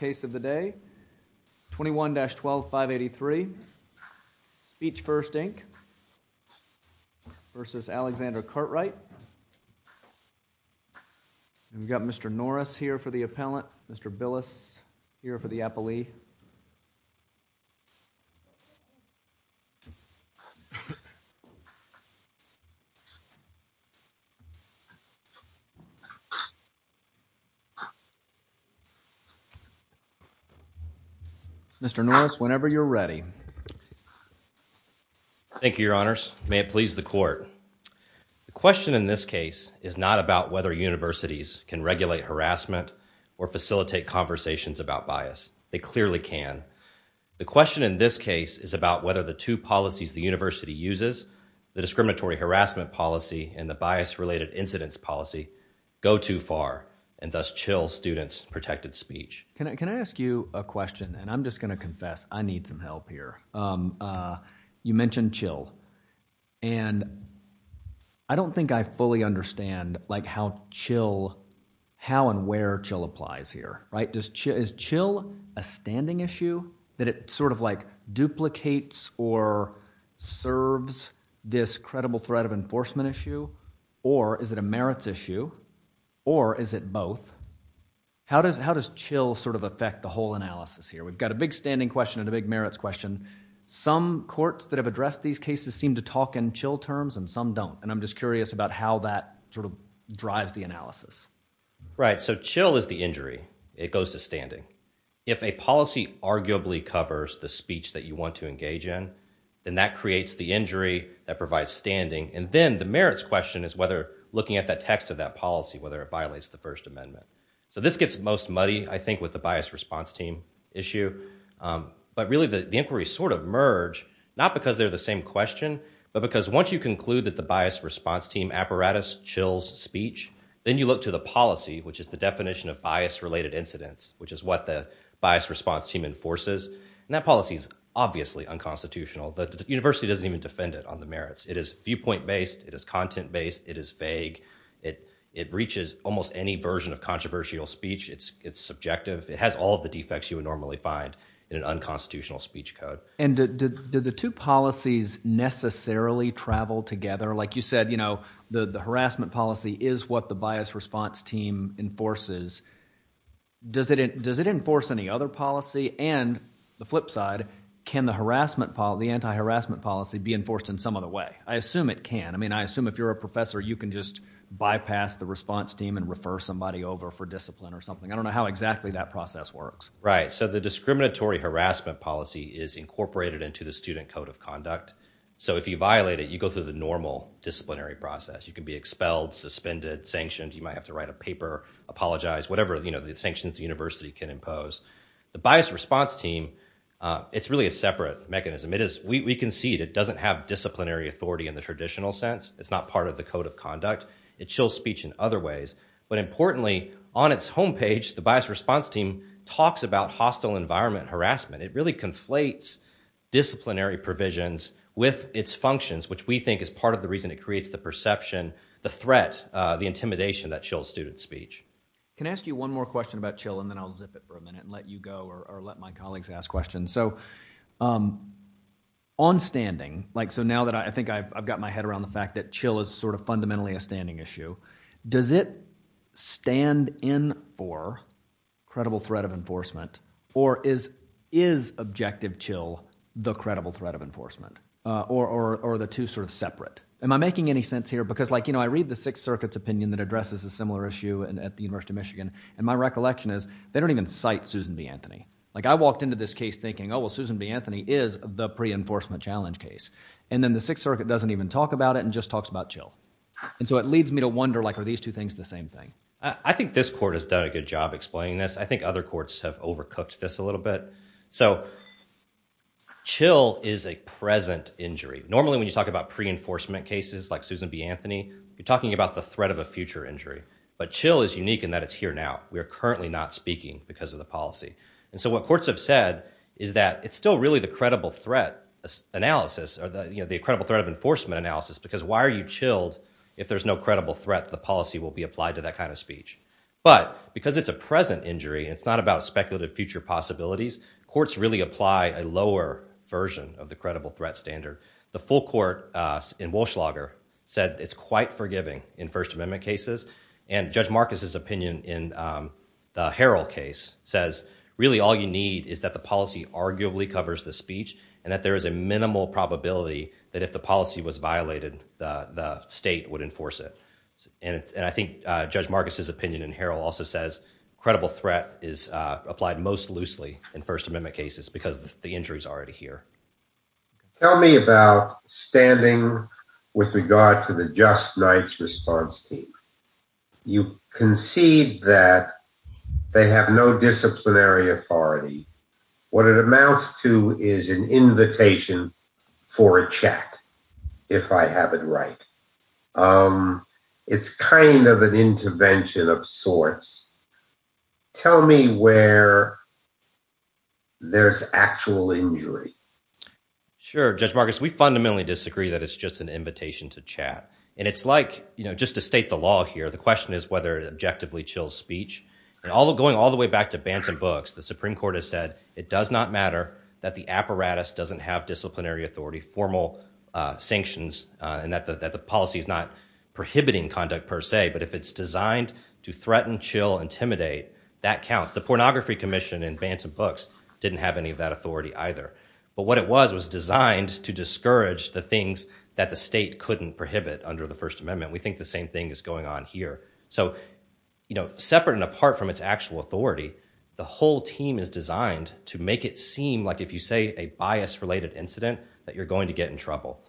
We've got Mr. Norris here for the appellant, Mr. Billis here for the appellee, and Mr. Norris, whenever you're ready. Mr. Norris Thank you, Your Honors. May it please the Court. The question in this case is not about whether universities can regulate harassment or facilitate conversations about bias. They clearly can. The question in this case is about whether the two policies the university uses, the discriminatory harassment policy and the bias-related incidents policy, go too far and thus chill students' protected speech. Can I ask you a question, and I'm just going to confess, I need some help here. You mentioned chill, and I don't think I fully understand, like, how and where chill applies here, right? Is chill a standing issue, that it sort of, like, duplicates or serves this credible threat of enforcement issue, or is it a merits issue, or is it both? How does chill sort of affect the whole analysis here? We've got a big standing question and a big merits question. Some courts that have addressed these cases seem to talk in chill terms and some don't, and I'm just curious about how that sort of drives the analysis. Mr. Billis Right, so chill is the injury. It goes to standing. If a policy arguably covers the speech that you want to engage in, then that And then the merits question is whether looking at the text of that policy, whether it violates the First Amendment. So this gets most muddy, I think, with the bias response team issue, but really the inquiries sort of merge, not because they're the same question, but because once you conclude that the bias response team apparatus chills speech, then you look to the policy, which is the definition of bias-related incidents, which is what the bias response team enforces, and that policy is obviously unconstitutional. The university doesn't even It is content-based. It is vague. It reaches almost any version of controversial speech. It's subjective. It has all of the defects you would normally find in an unconstitutional Mr. McLaughlin And do the two policies necessarily travel together? Like you said, the harassment policy is what the bias response team enforces. Does it enforce any other policy? And the flip side, can the anti-harassment policy be enforced in some other way? I assume it can. I mean, I assume if you're a professor, you can just bypass the response team and refer somebody over for discipline or something. I don't know how exactly that process works. Right. So the discriminatory harassment policy is incorporated into the student code of conduct. So if you violate it, you go through the normal disciplinary process. You can be expelled, suspended, sanctioned. You might have to write a paper, apologize, whatever the sanctions the university can impose. The bias response team, it's really a separate mechanism. We concede it doesn't have disciplinary authority in the traditional sense. It's not part of the code of conduct. It chills speech in other ways. But importantly, on its home page, the bias response team talks about hostile environment harassment. It really conflates disciplinary provisions with its functions, which we think is part of the reason it creates the perception, the threat, the intimidation that chills student for a minute and let you go or let my colleagues ask questions. So on standing, like, so now that I think I've got my head around the fact that chill is sort of fundamentally a standing issue, does it stand in for credible threat of enforcement? Or is objective chill the credible threat of enforcement? Or are the two sort of separate? Am I making any sense here? Because, like, you know, I read the Sixth Circuit's opinion that addresses a similar issue at the University of Michigan. And my recollection is they don't even cite Susan B. Anthony. Like, I walked into this case thinking, oh, well, Susan B. Anthony is the pre-enforcement challenge case. And then the Sixth Circuit doesn't even talk about it and just talks about chill. And so it leads me to wonder, like, are these two things the same thing? I think this court has done a good job explaining this. I think other courts have overcooked this a little bit. So chill is a present injury. Normally, when you talk about pre-enforcement cases like Susan B. Anthony, you're talking about the threat of future injury. But chill is unique in that it's here now. We are currently not speaking because of the policy. And so what courts have said is that it's still really the credible threat analysis or the, you know, the credible threat of enforcement analysis because why are you chilled if there's no credible threat? The policy will be applied to that kind of speech. But because it's a present injury, it's not about speculative future possibilities, courts really apply a lower version of the credible threat standard. The full court in First Amendment cases. And Judge Marcus's opinion in the Harrell case says really all you need is that the policy arguably covers the speech and that there is a minimal probability that if the policy was violated, the state would enforce it. And I think Judge Marcus's opinion in Harrell also says credible threat is applied most loosely in First Amendment cases because the injury is already here. Tell me about standing with regard to the Just Nights response team. You concede that they have no disciplinary authority. What it amounts to is an invitation for a chat, if I have it right. It's kind of an intervention of sorts. Tell me where there's actual injury. Sure. Judge Marcus, we fundamentally disagree that it's just an invitation to chat. And it's like, you know, just to state the law here, the question is whether it objectively chills speech. And all going all the way back to Bantam Books, the Supreme Court has said it does not matter that the apparatus doesn't have disciplinary authority, formal sanctions, and that the policy is not prohibiting conduct per se. But if it's designed to threaten, chill, intimidate, that counts. The Pornography Commission in Bantam Books didn't have any of that authority either. But what it was was designed to discourage the things that the state couldn't prohibit under the First Amendment. We think the same thing is going on here. So, you know, separate and apart from its actual authority, the whole team is designed to make it seem like if you say a bias-related incident that you're going to get in trouble.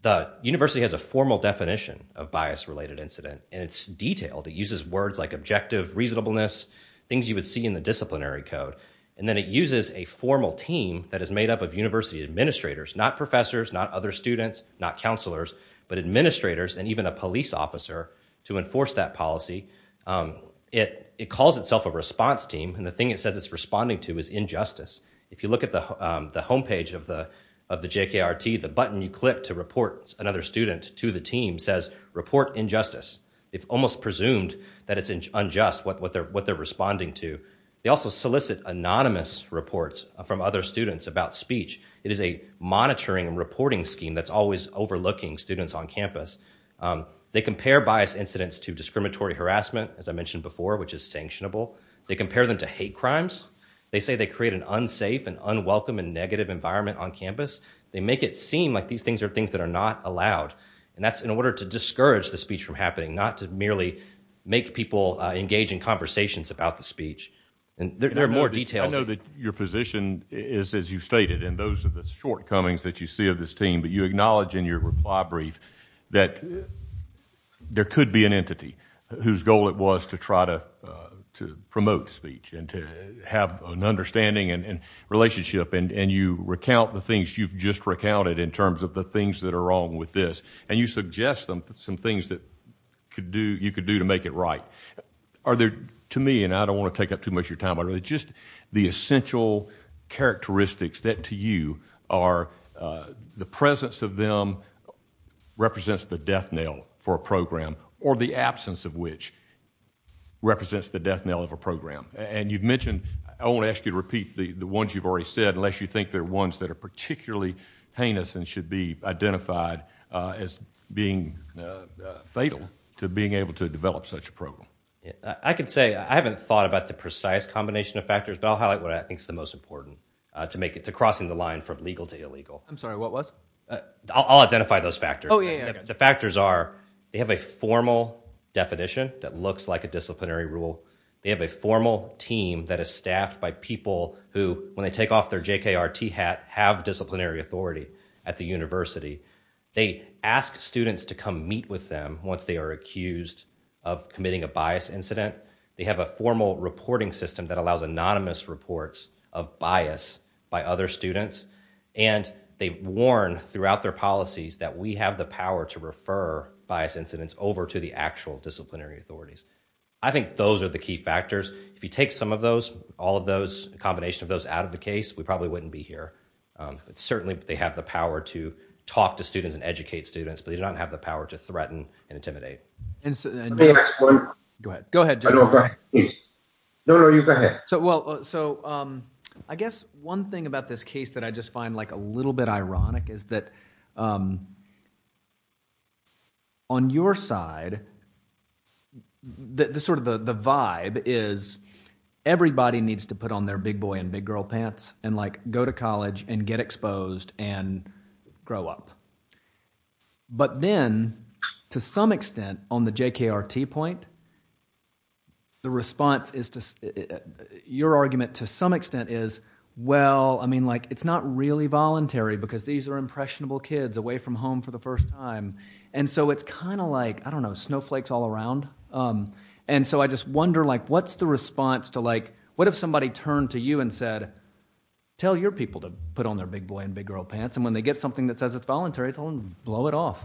The university has a formal definition of bias-related incident, and it's detailed. It uses words like objective, reasonableness, things you would see in the disciplinary code. And then it uses a formal team that is made up of university administrators, not professors, not other students, not counselors, but administrators and even a police officer to enforce that policy. It calls itself a response team, and the thing it says it's responding to is injustice. If you look at the homepage of the JKRT, the button you click to report another student to the team says, report injustice. It's almost presumed that it's unjust what they're responding to. They also solicit anonymous reports from other students about speech. It is a monitoring and reporting scheme that's always overlooking students on campus. They compare bias incidents to discriminatory harassment, as I mentioned before, which is sanctionable. They compare them to hate crimes. They say they create an unsafe and unwelcome and negative environment on campus. They make it seem like these things are things that are not allowed. And that's in order to discourage the speech from happening, not to merely make people engage in conversations about the speech. And there are more details. I know that your position is, as you stated, and those are the shortcomings that you see of this team, but you acknowledge in your reply brief that there could be an entity whose goal it was to try to promote speech and to have an understanding and relationship. And you recount the things you've just recounted in terms of the things that are wrong with this, and you suggest some things that you could do to make it right. Are there, to me, and I don't want to take up too much of your time, but are there just the essential characteristics that, to you, are the presence of them represents the death knell for a program, or the absence of which represents the death knell of a program? And you've mentioned, I won't ask you to repeat the ones you've already said unless you think they're ones that are particularly heinous and should be identified as being fatal to being able to develop such a program. I can say I haven't thought about the precise combination of factors, but I'll highlight what I think is the most important to crossing the line from legal to illegal. I'm sorry, what was? I'll identify those factors. Oh, yeah, yeah. The factors are they have a formal definition that looks like a disciplinary rule. They have a formal team that is staffed by people who, when they take off their JKRT hat, have disciplinary authority at the university. They ask students to come meet with them once they are accused of committing a bias incident. They have a formal reporting system that allows anonymous reports of bias by other students, and they warn throughout their policies that we have the power to refer bias incidents over to the actual disciplinary authorities. I think those are the key factors. If you take some of those, all of those, a combination of those out of the case, we probably wouldn't be here. Certainly, they have the power to talk to students and educate students, but they don't have the power to threaten and intimidate. Go ahead. Go ahead. No, no, you go ahead. Well, so I guess one thing about this case that I just find like a little bit ironic is that on your side, the sort of the vibe is everybody needs to put on their big boy and big girl pants and like go to college and get exposed and grow up. But then, to some extent, on the JKRT point, the response is to your argument to some extent is, well, I mean, like it's not really voluntary because these are impressionable kids away from home for the first time. And so it's kind of like, I don't know, snowflakes all around. And so I just wonder like what's the response to like what if somebody turned to you and said, tell your people to put on their big boy and big girl pants. And when they get something that says it's voluntary, they'll blow it off.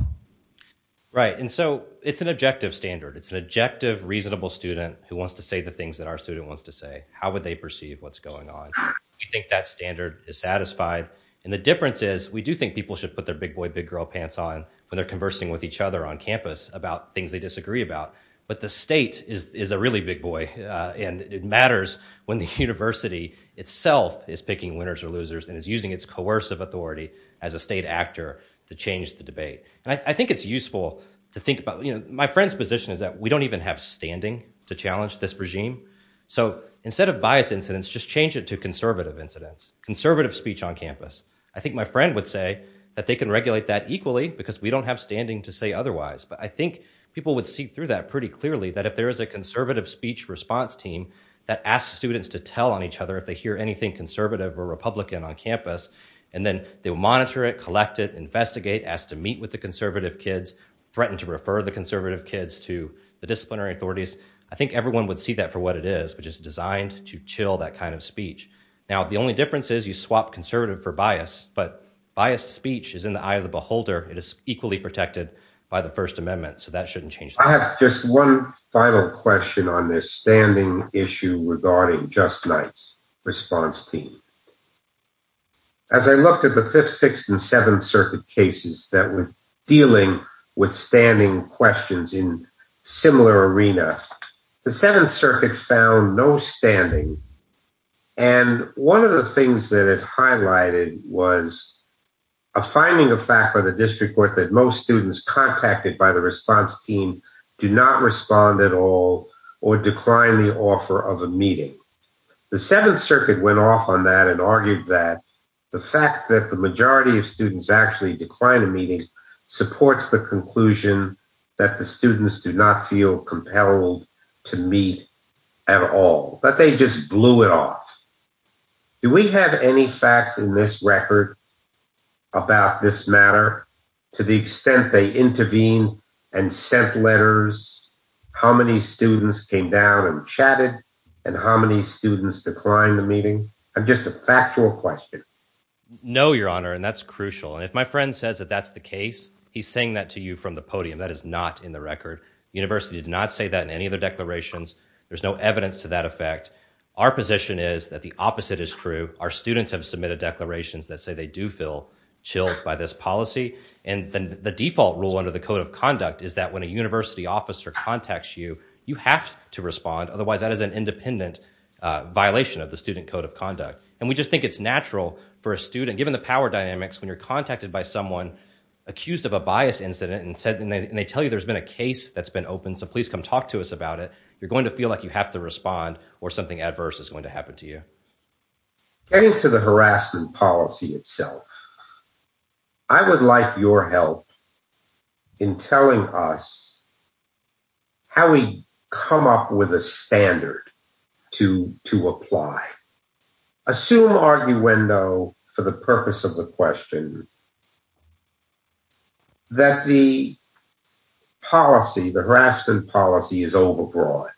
Right. And so it's an objective standard. It's an objective, reasonable student who wants to say the things that our student wants to say. How would they perceive what's going on? We think that standard is satisfied. And the difference is we do think people should put their big boy, big girl pants on when they're conversing with each other on campus about things they disagree about. But the state is a really big boy. And it matters when the university itself is picking winners or losers and is using its coercive authority as a state actor to change the debate. And I think it's useful to think about, you know, my friend's position is that we don't even have standing to challenge this regime. So instead of bias incidents, just change it to conservative incidents, conservative speech on campus. I think my friend would say that they can regulate that equally because we don't have standing to say otherwise. But I think people would see through that pretty clearly that if there is a conservative speech response team that asks students to tell on each other if they hear anything conservative or Republican on campus, and then they'll monitor it, collect it, investigate, ask to meet with the conservative kids, threaten to refer the conservative kids to the disciplinary authorities. I think everyone would see that for what it is, which is designed to chill that kind of speech. Now, the only difference is you swap conservative for bias. But biased speech is in the eye of the beholder. It is equally protected by the First Amendment. So that shouldn't change. I have just one final question on this standing issue regarding Just Knights response team. As I looked at the Fifth, Sixth, and Seventh Circuit cases that were dealing with standing questions in similar arena, the Seventh Circuit found no standing. And one of the things that it highlighted was a finding of fact by the district court that most students contacted by the response team do not respond at all or decline the offer of a meeting. The Seventh Circuit went off on that and argued that the fact that the majority of students actually decline a meeting supports the conclusion that the students do not feel compelled to meet at all. But they just blew it off. Do we have any facts in this record about this matter to the extent they intervene and sent letters? How many students came down and chatted and how many students declined the meeting? I'm just a factual question. No, Your Honor, and that's crucial. And if my friend says that that's the case, he's saying that to you from the podium. That is not in the record. University did not say that in any of the declarations. There's no evidence to that effect. Our position is that the opposite is true. Our students have submitted declarations that say they do feel chilled by this policy. And then the default rule under the Code of Conduct is that when a university officer contacts you, you have to respond. Otherwise, that is an independent violation of the Student Code of Conduct. And we just think it's natural for a student, given the power dynamics, when you're contacted by someone accused of a bias incident and they tell you there's been a case that's been opened, so please come talk to us about it, you're going to feel like you have to respond or something adverse is going to happen to you. Getting to the harassment policy itself, I would like your help in telling us how we come up with a standard to apply. Assume arguendo for the purpose of the question that the policy, the harassment policy is overbroad.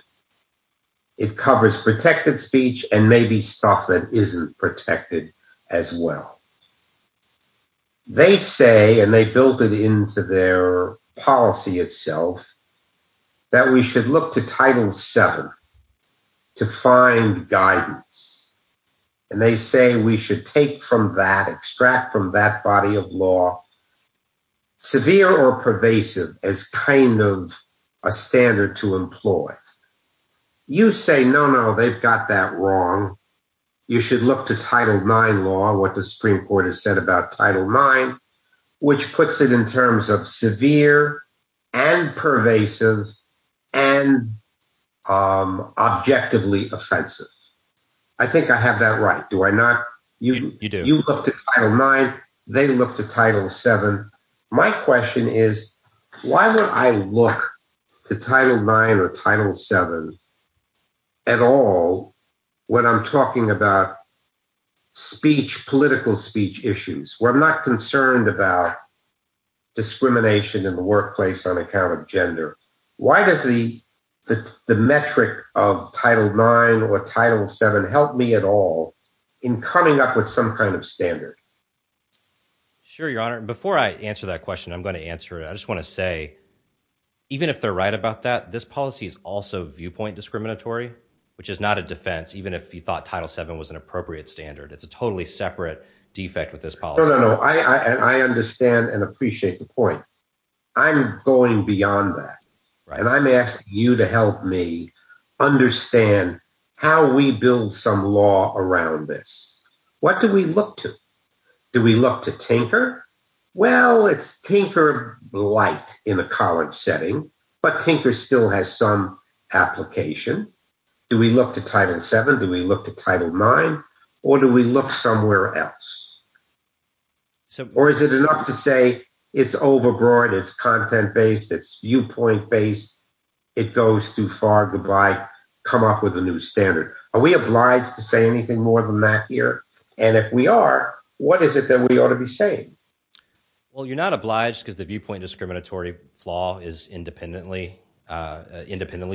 It covers protected speech and maybe stuff that isn't protected as well. They say, and they built it into their policy itself, that we should look to Title VII to find guidance. And they say we should take from that, extract from that body of law, severe or pervasive as kind of a standard to employ. You say, no, no, they've got that wrong. You should look to Title IX law, what the Supreme Court has said about Title IX, which puts it in terms of severe and pervasive and objectively offensive. I think I have that right, do I not? You look to Title IX, they look to Title VII. My question is, why would I look to Title IX or Title VII at all when I'm talking about speech, political speech issues, where I'm not concerned about discrimination in the workplace on account of gender? Why does the metric of Title IX or Title VII help me at all in coming up with some kind of standard? Sure, Your Honor. Before I answer that question, I'm going to answer it. I just want to say, even if they're right about that, this policy is also viewpoint discriminatory, which is not a defense, even if you thought Title VII was an appropriate standard. It's a totally separate defect with this policy. No, no, no. I understand and appreciate the point. I'm going beyond that, and I'm asking you to help me understand how we build some law around this. What do we look to? Do we look to Tinker? Well, it's Tinker-like in a college setting, but Tinker still has some application. Do we look to Title VII? Do we look to Title IX? Or do we look somewhere else? Or is it enough to say it's overbroad, it's content-based, it's viewpoint-based, it goes too far, goodbye, come up with a new standard? Are we obliged to say anything more than that here? And if we are, what is it that we ought to be saying? Well, you're not obliged because the viewpoint discriminatory flaw independently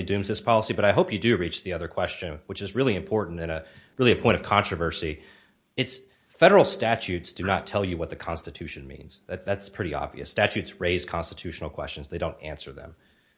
dooms this policy. But I hope you do reach the other question, which is really important and really a point of controversy. Federal statutes do not tell you what the Constitution means. That's pretty obvious. Statutes raise constitutional questions. They don't answer them.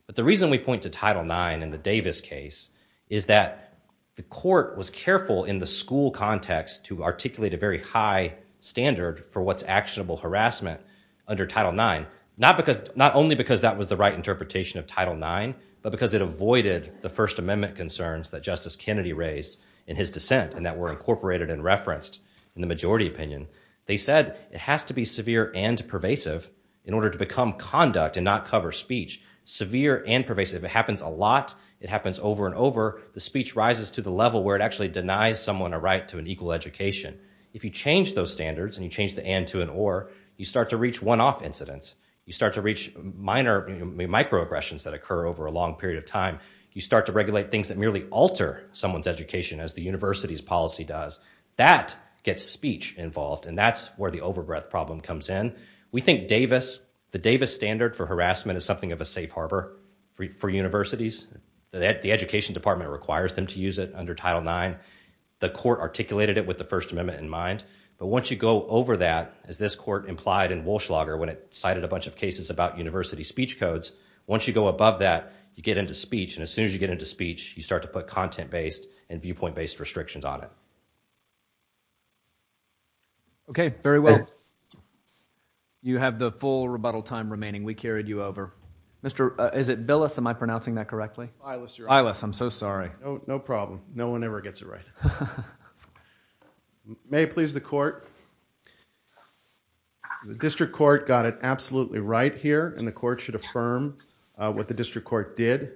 But the reason we point to Title IX in the Davis case is that the court was careful in the school context to articulate a very high standard for what's actionable harassment under Title IX, not only because that was the right interpretation of Title IX, but because it avoided the First Amendment concerns that Justice Kennedy raised in his dissent and that were incorporated and referenced in the majority opinion. They said it has to be severe and pervasive in order to become conduct and not cover speech. Severe and pervasive. If it happens a lot, it happens over and over, the speech rises to the level where it actually denies someone a right to an equal education. If you change those standards and you change the and to an or, you start to reach one-off incidents. You start to reach minor microaggressions that occur over a long period of time. You start to regulate things that merely alter someone's education as the university's policy does. That gets speech involved and that's where the over-breath problem comes in. We think Davis, the Davis standard for harassment is something of a safe harbor for universities. The education department requires them to use it under Title IX. The court articulated it with the First Amendment in mind, but once you go over that, as this court implied in Walschlager when it cited a bunch of cases about university speech codes, once you go above that, you get into speech. And as soon as you get into speech, you start to put content based and viewpoint based restrictions on it. Okay, very well. You have the full rebuttal time remaining. We carried you over. Mr., is it Billis? Am I pronouncing that correctly? Eilis, you're up. Eilis, I'm so sorry. No problem. No one ever gets it right. May it please the court. The district court got it absolutely right here and the court should affirm what the district court did.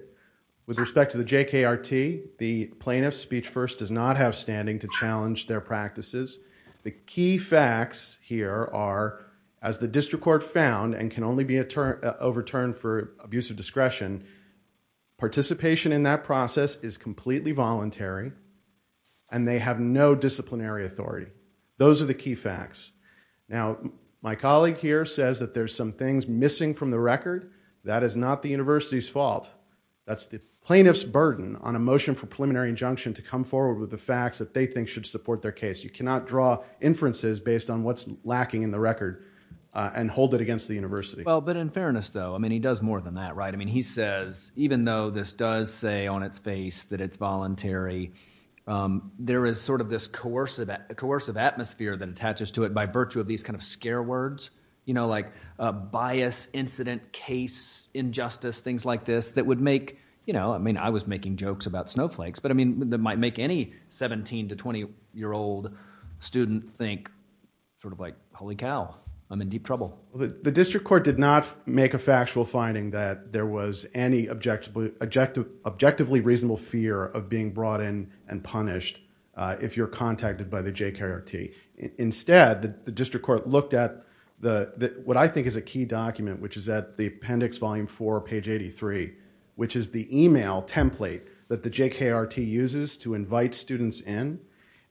With respect to the JKRT, the plaintiff's speech first does not have standing to challenge their practices. The key facts here are, as the district court found and can only be overturned for abuse of discretion, participation in that process is completely voluntary and they have no disciplinary authority. Those are the key facts. Now, my colleague here says that there's some things missing from the record. That is not the university's fault. That's the plaintiff's burden on a motion for preliminary injunction to come forward with the facts that they think should support their case. You cannot draw inferences based on what's lacking in the record and hold it against the university. Well, but in fairness, though, I mean, he does more than that, right? I mean, he says, even though this does say on its face that it's voluntary, there is sort of this coercive atmosphere that attaches to it by virtue of these kind of scare words, you know, like bias, incident, case, injustice, things like this that would make, you know, I mean, I was making jokes about snowflakes, but I mean, that might make any 17 to 20 year old student think sort of like, holy cow, I'm in deep trouble. The district court did not make a factual finding that there was any objectively reasonable fear of being brought in and punished if you're contacted by the JKRT. Instead, the district court looked at what I think is a key document, which is at the appendix volume 4, page 83, which is the email template that the JKRT uses to invite students in.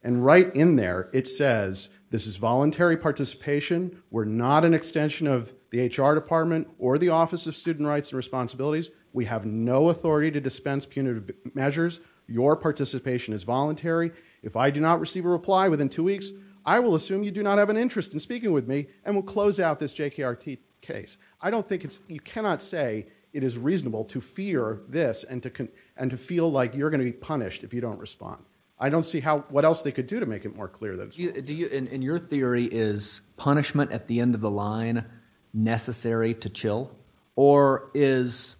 And right in there, it says, this is voluntary participation. We're not an extension of the HR department or the Office of Student Rights and Responsibilities. We have no authority to dispense punitive measures. Your participation is voluntary. If I do not receive a reply within two weeks, I will assume you do not have an interest in speaking with me and will close out this JKRT case. I don't think it's, you cannot say it is reasonable to fear this and to feel like you're going to be punished if you don't respond. I don't see how, what else they could do to make it more clear that it's voluntary. Do you, in your theory, is punishment at the end of the line necessary to chill? Or is,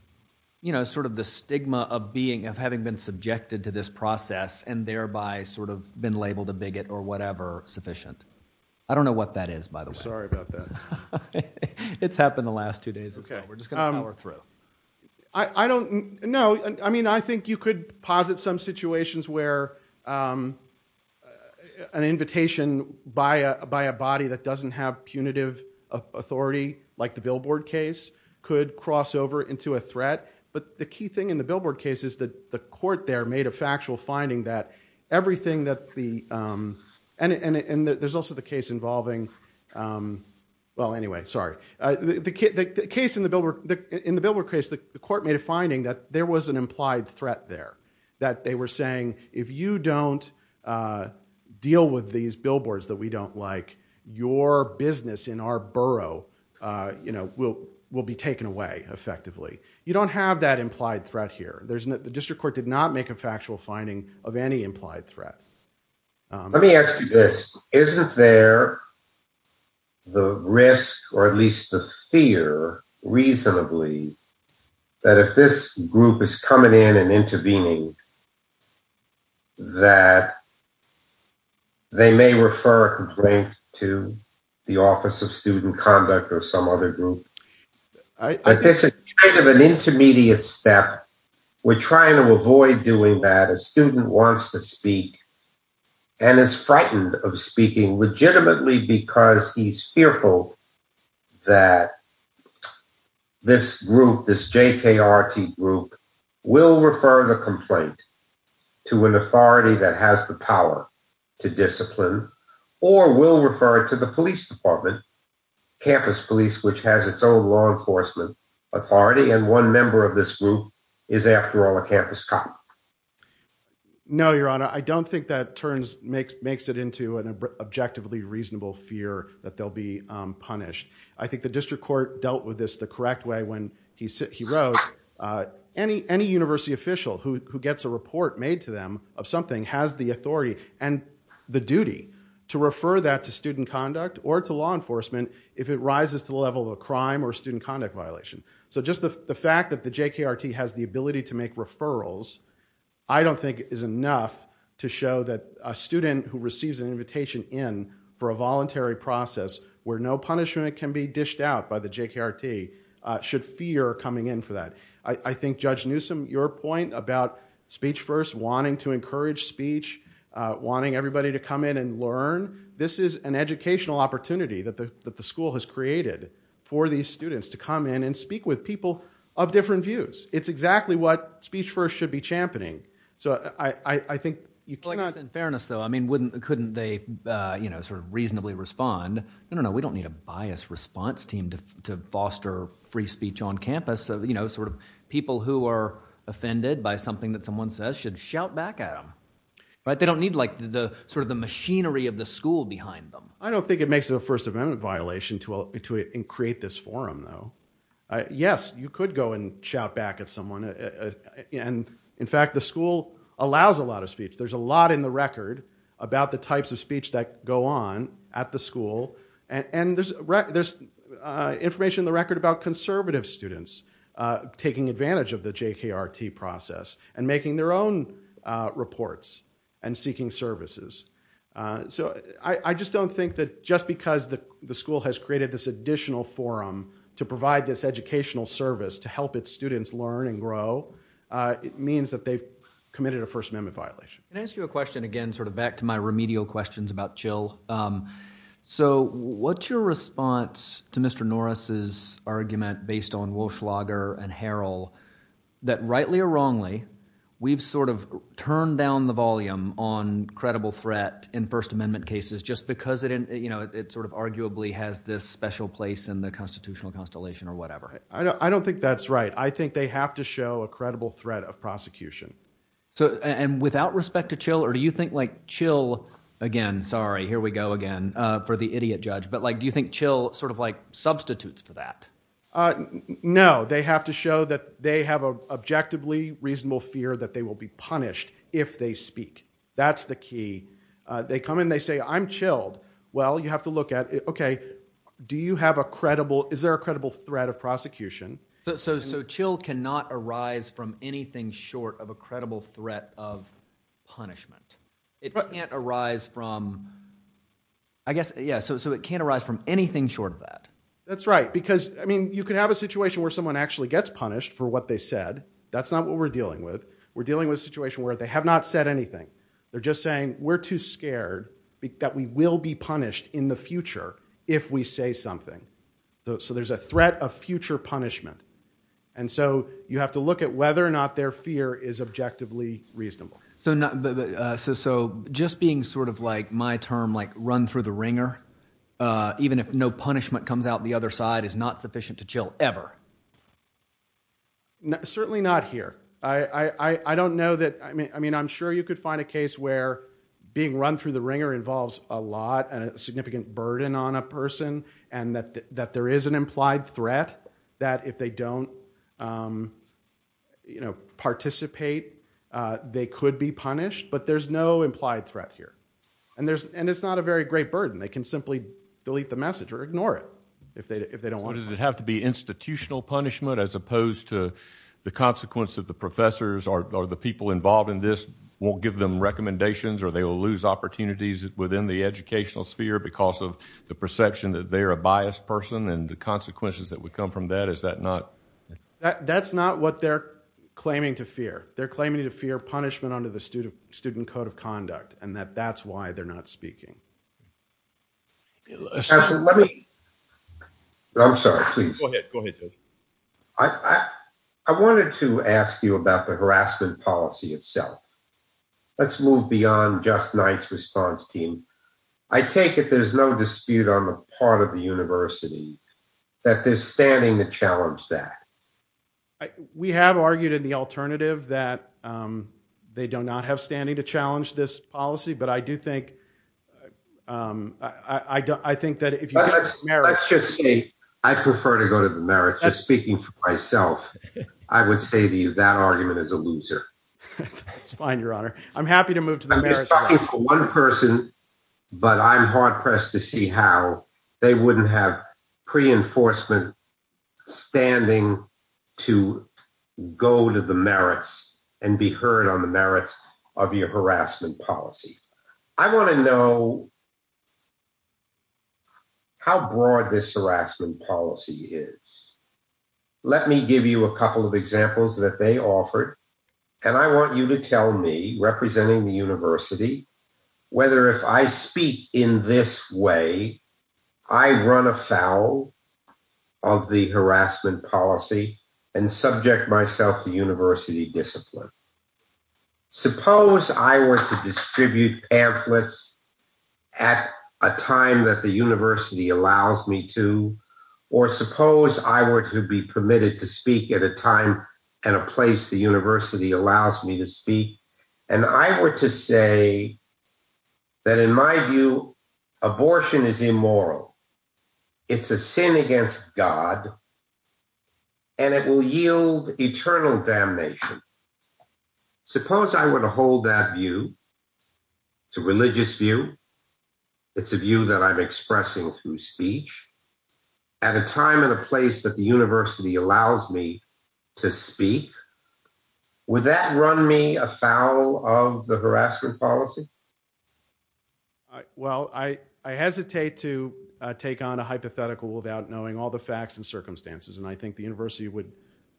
you know, sort of the stigma of being, of having been subjected to this process and thereby sort of been labeled a bigot or whatever sufficient? I don't know what that is, by the way. Sorry about that. It's happened the last two days as well. We're just going to power through. I don't know. I mean, I think you could posit some situations where an invitation by a body that doesn't have punitive authority, like the Billboard case, could cross over into a threat. But the key thing in the Billboard case is that the court there made a factual finding that everything that the, and there's also the case involving, well, anyway, sorry. The case in the Billboard case, the court made a finding that there was an implied threat there, that they were saying, if you don't deal with these billboards that we don't like, your business in our borough, you know, will be taken away effectively. You don't have that implied threat here. The district court did not make a factual finding of any implied threat. Let me ask you this. Isn't there the risk, or at least the fear, reasonably, that if this group is coming in and intervening, that they may refer a complaint to the Office of Student Conduct or some other group? This is kind of an intermediate step. We're trying to avoid doing that. A student wants to speak and is frightened of speaking legitimately because he's fearful that this group, this JKRT group, will refer the complaint to an authority that has the power to discipline or will refer it to the police department, campus police, which has its own law enforcement authority. And one member of this group is, after all, a campus cop. No, Your Honor, I don't think that makes it into an objectively reasonable fear that they'll be punished. I think the district court dealt with this the correct way when he wrote, any university official who gets a report made to them of something has the authority and the duty to refer that to student conduct or to law enforcement if it rises to the level of a crime or student conduct violation. So just the fact that the JKRT has the ability to make referrals, I don't think is enough to show that a student who receives an invitation in for a voluntary process where no punishment can be dished out by the JKRT should fear coming in for that. I think, Judge Newsom, your point about Speech First wanting to encourage speech, wanting everybody to come in and learn, this is an educational opportunity that the school has created for these students to come in and speak with people of different views. It's exactly what Speech First should be championing. So I think you cannot... In fairness, though, I mean, wouldn't, couldn't they, you know, sort of reasonably respond? No, no, no, we don't need a biased response team to foster free speech on campus. You know, sort of people who are offended by something that someone says should shout back at them, right? They don't need, like, the sort of the machinery of the school behind them. I don't think it makes it a First Amendment violation to create this forum, though. Yes, you could go and shout back at someone. And, in fact, the school allows a lot of speech. There's a lot in the record about the types of speech that go on at the school. And there's information in the record about conservative students taking advantage of the JKRT process and making their own reports and seeking services. So I just don't think that just because the school has created this additional forum to provide this educational service to help its students learn and grow, it means that they've committed a First Amendment violation. Can I ask you a question again, sort of back to my remedial questions about Jill? So what's your response to Mr. Norris's argument based on Welschlager and Harrell that, rightly or wrongly, we've sort of turned down the volume on credible threat in First Amendment cases just because it sort of arguably has this special place in the constitutional constellation or whatever? I don't think that's right. I think they have to show a credible threat of prosecution. And without respect to Jill, or do you think, like, Jill, again, sorry, here we go again for the idiot judge, but, like, do you think Jill sort of, like, substitutes for that? No, they have to show that they have an objectively reasonable fear that they will be punished if they speak. That's the key. They come and they say, I'm chilled. Well, you have to look at, okay, do you have a credible, is there a credible threat of prosecution? So Jill cannot arise from anything short of a credible threat of punishment. It can't arise from, I guess, yeah, so it can't arise from anything short of that. That's right, because, I mean, you could have a situation where someone actually gets punished for what they said. That's not what we're dealing with. We're dealing with a situation where they have not said anything. They're just saying, we're too scared that we will be punished in the future if we say something. So there's a threat of future punishment. And so you have to look at whether or not their fear is objectively reasonable. So just being sort of, like, my term, like, run through the ringer, even if no punishment comes out the other side, is not sufficient to chill ever? Certainly not here. I don't know that, I mean, I'm sure you could find a case where being run through the ringer involves a lot, a significant burden on a person, and that there is an implied threat that if they don't participate, they could be punished, but there's no implied threat here. And it's not a very great burden. They can simply delete the message or ignore it if they don't want to. So does it have to be institutional punishment as opposed to the consequence that the professors or the people involved in this won't give them recommendations or they will lose opportunities within the educational sphere because of the perception that they're a biased person and the consequences that would come from that, is that not? That's not what they're claiming to fear. They're claiming to fear punishment under the Student Code of Conduct, and that that's why they're not speaking. I'm sorry, please. Go ahead. I wanted to ask you about the harassment policy itself. Let's move beyond just Knight's response team. I take it there's no dispute on the part of the university that they're standing to challenge that. We have argued in the alternative that they do not have standing to challenge this policy, but I do think, I think that if you... Let's just say I prefer to go to the merits. Just speaking for myself, I would say that argument is a loser. It's fine, Your Honor. I'm happy to move to the merits. I was talking for one person, but I'm hard pressed to see how they wouldn't have pre-enforcement standing to go to the merits and be heard on the merits of your harassment policy. I want to know how broad this harassment policy is. Let me give you a couple of examples that they offered. And I want you to tell me, representing the university, whether if I speak in this way, I run afoul of the harassment policy and subject myself to university discipline. Suppose I were to distribute pamphlets at a time that the university allows me to, or suppose I were to be permitted to speak at a time and a place the university allows me to speak. And I were to say that in my view, abortion is immoral. It's a sin against God. And it will yield eternal damnation. Suppose I were to hold that view. It's a religious view. It's a view that I'm expressing through speech. At a time and a place that the university allows me to speak. Would that run me afoul of the harassment policy? Well, I hesitate to take on a hypothetical without knowing all the facts and circumstances. And I think the university would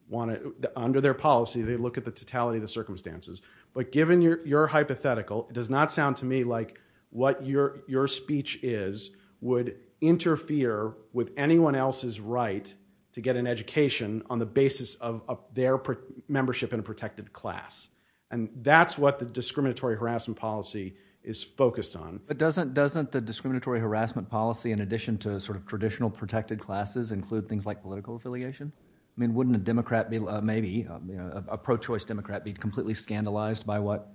want to, under their policy, they look at the totality of the circumstances. But given your hypothetical, it does not sound to me like what your speech is would interfere with anyone else's right to get an education on the basis of their membership in a protected class. And that's what the discriminatory harassment policy is focused on. But doesn't the discriminatory harassment policy, in addition to traditional protected classes, include things like political affiliation? I mean, wouldn't a Democrat, maybe a pro-choice Democrat, be completely scandalized by what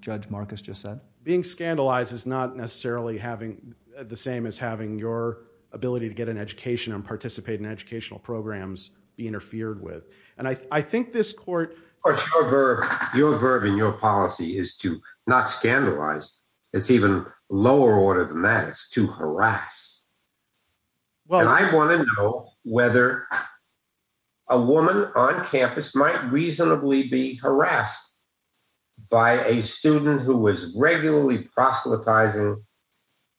Judge Marcus just said? Being scandalized is not necessarily having the same as having your ability to get an education and participate in educational programs be interfered with. And I think this court. Your verb in your policy is to not scandalize. It's even lower order than that. It's to harass. Well, I want to know whether a woman on campus might reasonably be harassed by a student who was regularly proselytizing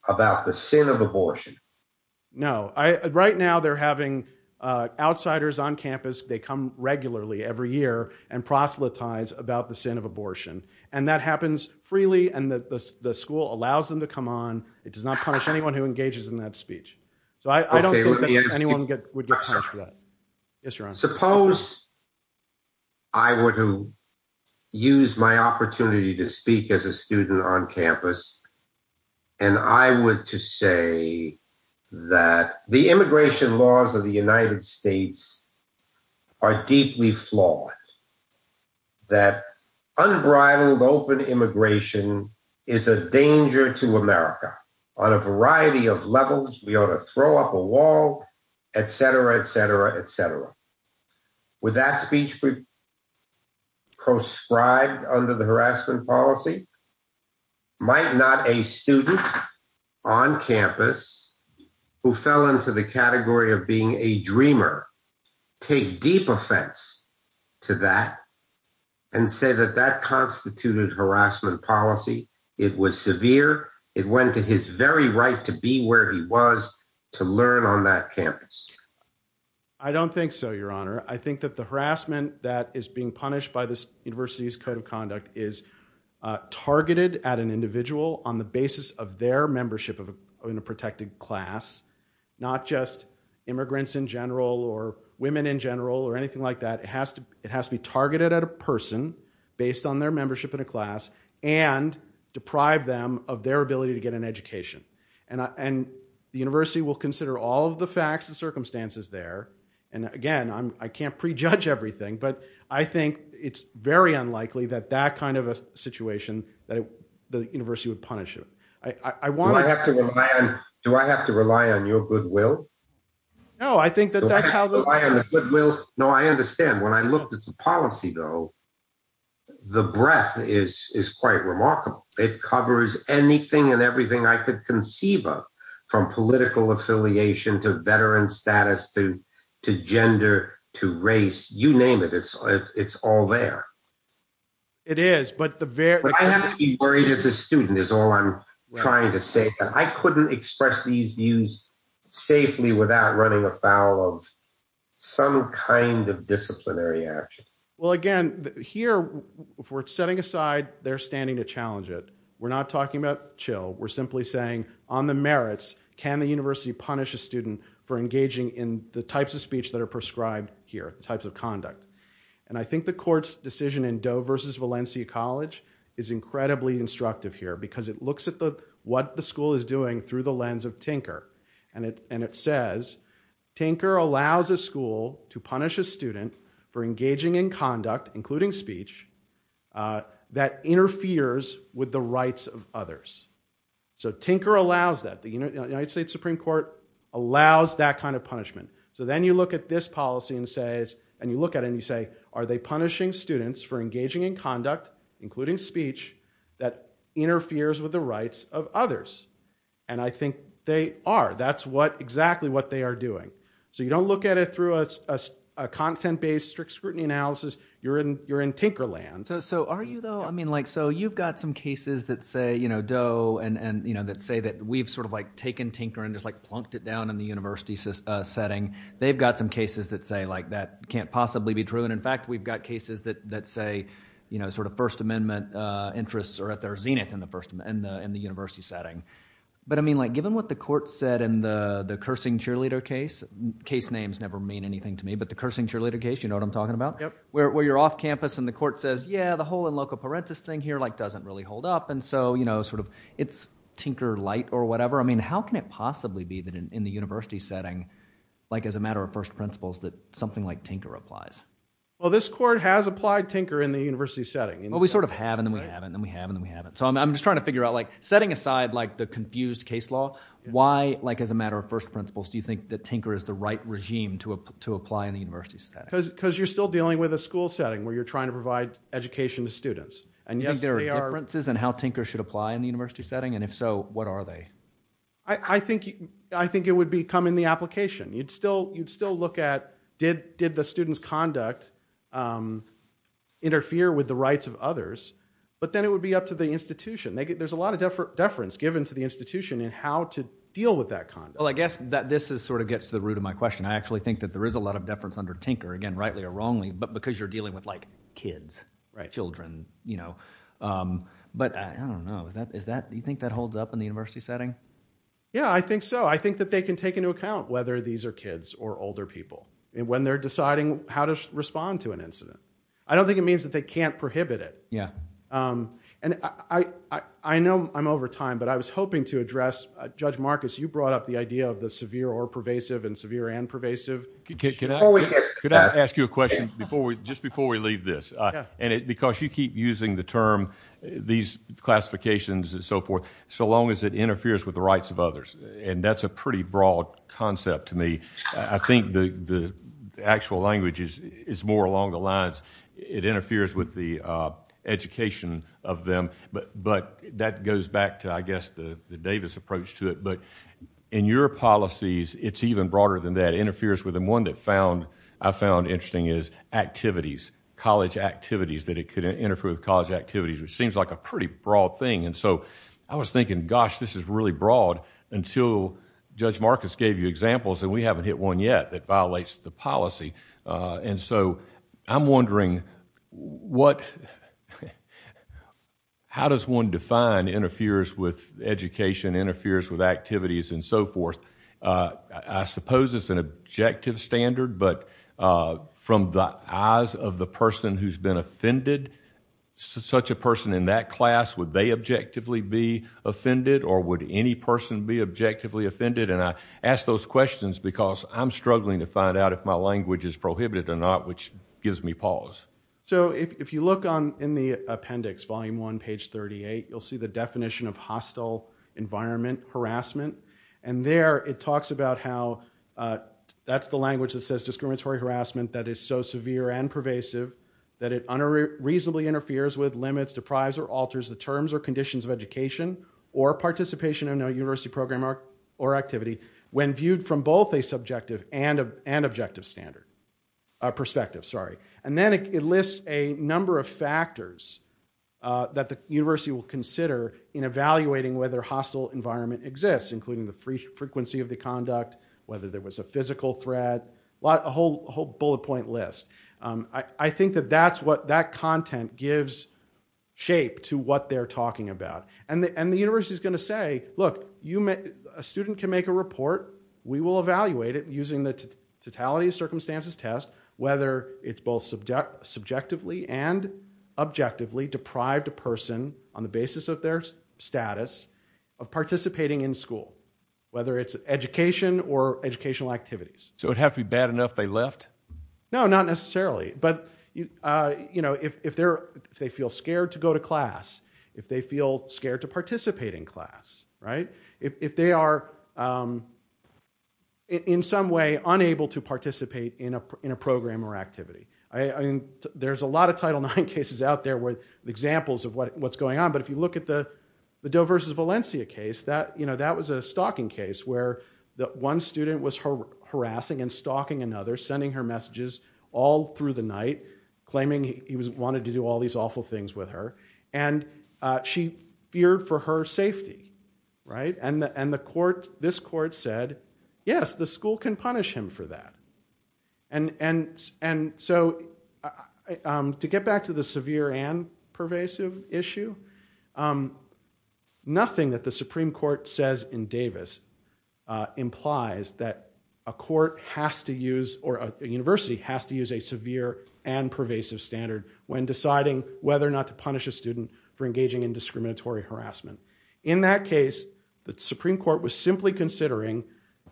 about the sin of abortion. No, I right now they're having outsiders on campus. They come regularly every year and proselytize about the sin of abortion. And that happens freely. And the school allows them to come on. It does not punish anyone who engages in that speech. So I don't think anyone would get punished for that. Suppose. I were to use my opportunity to speak as a student on campus. And I would to say that the immigration laws of the United States are deeply flawed. That unbridled, open immigration is a danger to America on a variety of levels. We ought to throw up a wall, etc., etc., etc. With that speech. Proscribed under the harassment policy. Might not a student on campus who fell into the category of being a dreamer. Take deep offense to that and say that that constituted harassment policy. It was severe. It went to his very right to be where he was to learn on that campus. I don't think so, Your Honor. I think that the harassment that is being punished by this university's code of conduct is targeted at an individual on the basis of their membership in a protected class. Not just immigrants in general or women in general or anything like that. It has to it has to be targeted at a person based on their membership in a class and deprive them of their ability to get an education. And the university will consider all of the facts and circumstances there. And again, I can't prejudge everything, but I think it's very unlikely that that kind of a situation that the university would punish it. I want to have to rely on. Do I have to rely on your goodwill? No, I think that that's how the goodwill. No, I understand. When I looked at the policy, though. The breadth is is quite remarkable. It covers anything and everything I could conceive of from political affiliation to veteran status to to gender, to race, you name it. It's it's all there. It is. But I have to be worried as a student is all I'm trying to say that I couldn't express these views safely without running afoul of some kind of disciplinary action. Well, again, here we're setting aside their standing to challenge it. We're not talking about chill. We're simply saying on the merits, can the university punish a student for engaging in the types of speech that are prescribed here, the types of conduct? And I think the court's decision in Doe versus Valencia College is incredibly instructive here because it looks at what the school is doing through the lens of Tinker. And it and it says Tinker allows a school to punish a student for engaging in conduct, including speech that interferes with the rights of others. So Tinker allows that the United States Supreme Court allows that kind of punishment. So then you look at this policy and says and you look at it and you say, are they punishing students for engaging in conduct, including speech that interferes with the rights of others? And I think they are. That's what exactly what they are doing. So you don't look at it through a content based strict scrutiny analysis. You're in you're in Tinker land. So are you, though? I mean, like so you've got some cases that say, you know, Doe and, you know, that say that we've sort of like taken Tinker and just like plunked it down in the university setting. They've got some cases that say like that can't possibly be true. And in fact, we've got cases that that say, you know, sort of First Amendment interests are at their zenith in the first and in the university setting. But I mean, like given what the court said in the the cursing cheerleader case, case names never mean anything to me. But the cursing cheerleader case, you know what I'm talking about? Where you're off campus and the court says, yeah, the whole in loco parentis thing here like doesn't really hold up. And so, you know, sort of it's Tinker lite or whatever. I mean, how can it possibly be that in the university setting, like as a matter of first principles, that something like Tinker applies? Well, this court has applied Tinker in the university setting. Well, we sort of have and then we haven't and we haven't and we haven't. So I'm just trying to figure out like setting aside like the confused case law. Why, like as a matter of first principles, do you think that Tinker is the right regime to apply in the university setting? Because you're still dealing with a school setting where you're trying to provide education to students. And yes, there are differences in how Tinker should apply in the university setting. And if so, what are they? I think I think it would be come in the application. You'd still you'd still look at did did the students conduct interfere with the rights of others? But then it would be up to the institution. There's a lot of different deference given to the institution and how to deal with that. Well, I guess that this is sort of gets to the root of my question. I actually think that there is a lot of deference under Tinker again, rightly or wrongly, but because you're dealing with like kids, right? Children, you know, but I don't know. Is that is that you think that holds up in the university setting? Yeah, I think so. I think that they can take into account whether these are kids or older people when they're deciding how to respond to an incident. I don't think it means that they can't prohibit it. Yeah. And I know I'm over time, but I was hoping to address Judge Marcus. You brought up the idea of the severe or pervasive and severe and pervasive. Can I ask you a question before we just before we leave this? And because you keep using the term these classifications and so forth, so long as it interferes with the rights of others. And that's a pretty broad concept to me. I think the actual language is more along the lines. It interferes with the education of them. But that goes back to, I guess, the Davis approach to it. But in your policies, it's even broader than that. It interferes with them. One that I found interesting is activities, college activities, that it could interfere with college activities, which seems like a pretty broad thing. And so I was thinking, gosh, this is really broad until Judge Marcus gave you examples, and we haven't hit one yet that violates the policy. And so I'm wondering, how does one define interferes with education, interferes with activities, and so forth? I suppose it's an objective standard. But from the eyes of the person who's been offended, such a person in that class, would they objectively be offended? Or would any person be objectively offended? And I ask those questions because I'm struggling to find out if my language is prohibited or not, which gives me pause. So if you look in the appendix, volume one, page 38, you'll see the definition of hostile environment harassment. And there, it talks about how that's the language that says discriminatory harassment that is so severe and pervasive that it unreasonably interferes with, when viewed from both a subjective and objective perspective. And then it lists a number of factors that the university will consider in evaluating whether hostile environment exists, including the frequency of the conduct, whether there was a physical threat, a whole bullet point list. I think that that content gives shape to what they're talking about. And the university is going to say, look, a student can make a report. We will evaluate it using the totality of circumstances test, whether it's both subjectively and objectively deprived a person on the basis of their status of participating in school, whether it's education or educational activities. So it would have to be bad enough they left? No, not necessarily. But if they feel scared to go to class, if they feel scared to participate in class, if they are, in some way, unable to participate in a program or activity. There's a lot of Title IX cases out there with examples of what's going on. But if you look at the Doe versus Valencia case, that was a stalking case where one student was harassing and stalking another, sending her messages all through the night, claiming he wanted to do all these awful things with her. And she feared for her safety. And this court said, yes, the school can punish him for that. And so to get back to the severe and pervasive issue, nothing that the Supreme Court says in Davis implies that a court has to use or a university has to use a severe and pervasive standard when deciding whether or not to punish a student for engaging in discriminatory harassment. In that case, the Supreme Court was simply considering,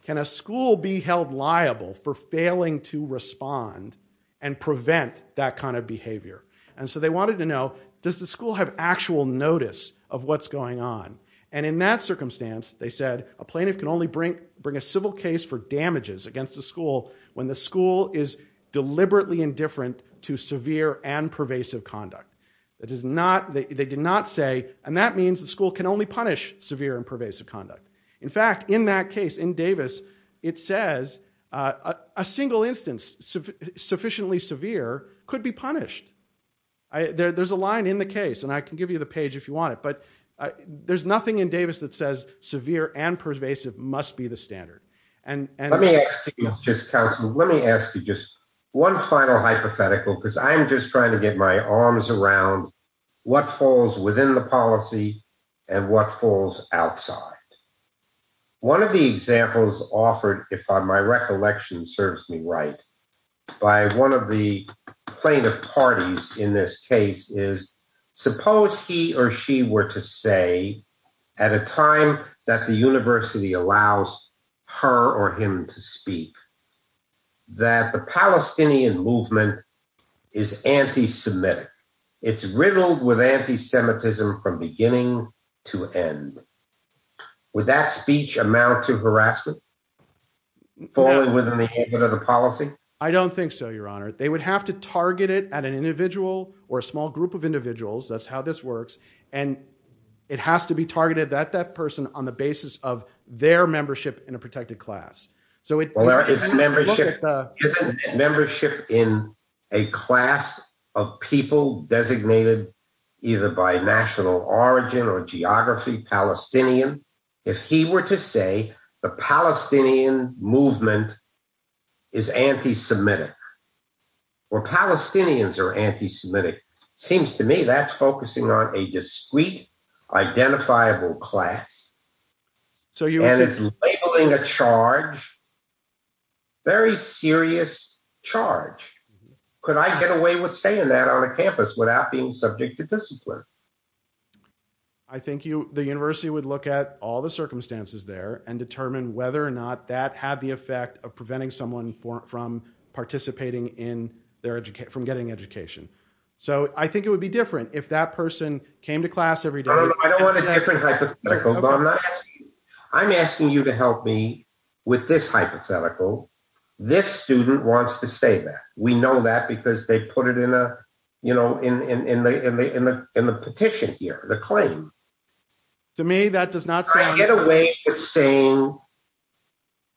can a school be held liable for failing to respond and prevent that kind of behavior? And so they wanted to know, does the school have actual notice of what's going on? And in that circumstance, they said, a plaintiff can only bring a civil case for damages against the school when the school is deliberately indifferent to severe and pervasive conduct. They did not say, and that means the school can only punish severe and pervasive conduct. In fact, in that case, in Davis, it says a single instance sufficiently severe could be punished. There's a line in the case, and I can give you the page if you want it, but there's nothing in Davis that says severe and pervasive must be the standard. Let me ask you just one final hypothetical, because I'm just trying to get my arms around what falls within the policy and what falls outside. One of the examples offered, if my recollection serves me right, by one of the plaintiff parties in this case is, suppose he or she were to say at a time that the university allows her or him to speak, that the Palestinian movement is anti-Semitic. It's riddled with anti-Semitism from beginning to end. Would that speech amount to harassment? Falling within the policy? I don't think so, Your Honor. They would have to target it at an individual or a small group of individuals. That's how this works. And it has to be targeted at that person on the basis of their membership in a protected class. Membership in a class of people designated either by national origin or geography, Palestinian. If he were to say the Palestinian movement is anti-Semitic, or Palestinians are anti-Semitic, seems to me that's focusing on a discrete, identifiable class. And it's labeling a charge, very serious charge. Could I get away with saying that on a campus without being subject to discipline? I think the university would look at all the circumstances there and determine whether or not that had the effect of preventing someone from participating in their education, from getting education. So I think it would be different if that person came to class every day. I don't want a different hypothetical, but I'm asking you to help me with this hypothetical. This student wants to say that. We know that because they put it in the petition here, the claim. To me, that does not sound— Could I get away with saying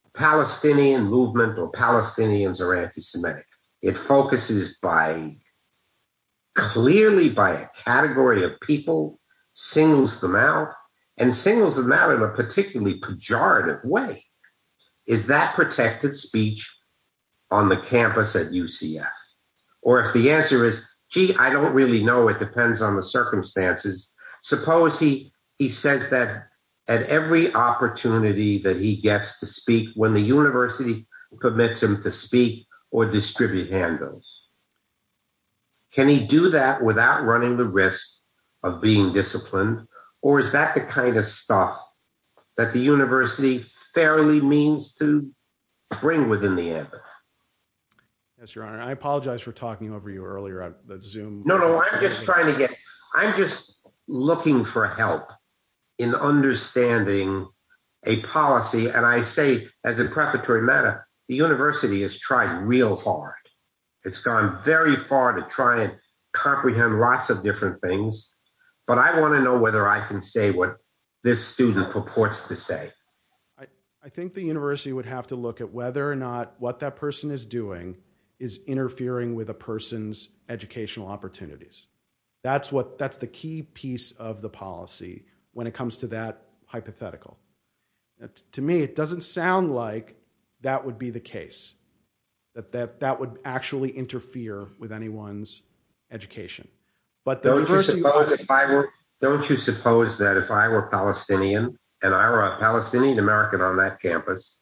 the Palestinian movement or Palestinians are anti-Semitic? It focuses clearly by a category of people, singles them out, and singles them out in a particularly pejorative way. Is that protected speech on the campus at UCF? Or if the answer is, gee, I don't really know. It depends on the circumstances. Suppose he says that at every opportunity that he gets to speak, when the university permits him to speak or distribute handouts, can he do that without running the risk of being disciplined? Or is that the kind of stuff that the university fairly means to bring within the ambit? Yes, Your Honor. I apologize for talking over you earlier on Zoom. No, no, I'm just trying to get—I'm just looking for help in understanding a policy. And I say, as a preparatory matter, the university has tried real hard. It's gone very far to try and comprehend lots of different things. But I want to know whether I can say what this student purports to say. I think the university would have to look at whether or not what that person is doing is interfering with a person's educational opportunities. That's what—that's the key piece of the policy when it comes to that hypothetical. To me, it doesn't sound like that would be the case, that that would actually interfere with anyone's education. Don't you suppose if I were—don't you suppose that if I were Palestinian and I were a Palestinian American on that campus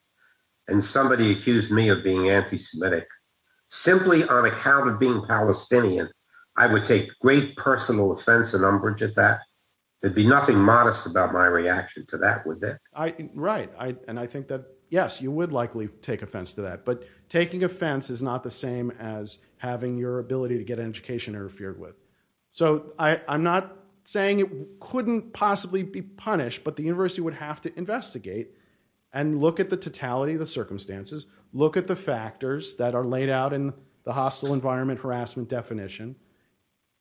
and somebody accused me of being anti-Semitic, simply on account of being Palestinian, I would take great personal offense and umbrage at that? There'd be nothing modest about my reaction to that, would there? Right. And I think that, yes, you would likely take offense to that. But taking offense is not the same as having your ability to get an education interfered with. So I'm not saying it couldn't possibly be punished, but the university would have to investigate and look at the totality of the circumstances, look at the factors that are laid out in the hostile environment harassment definition,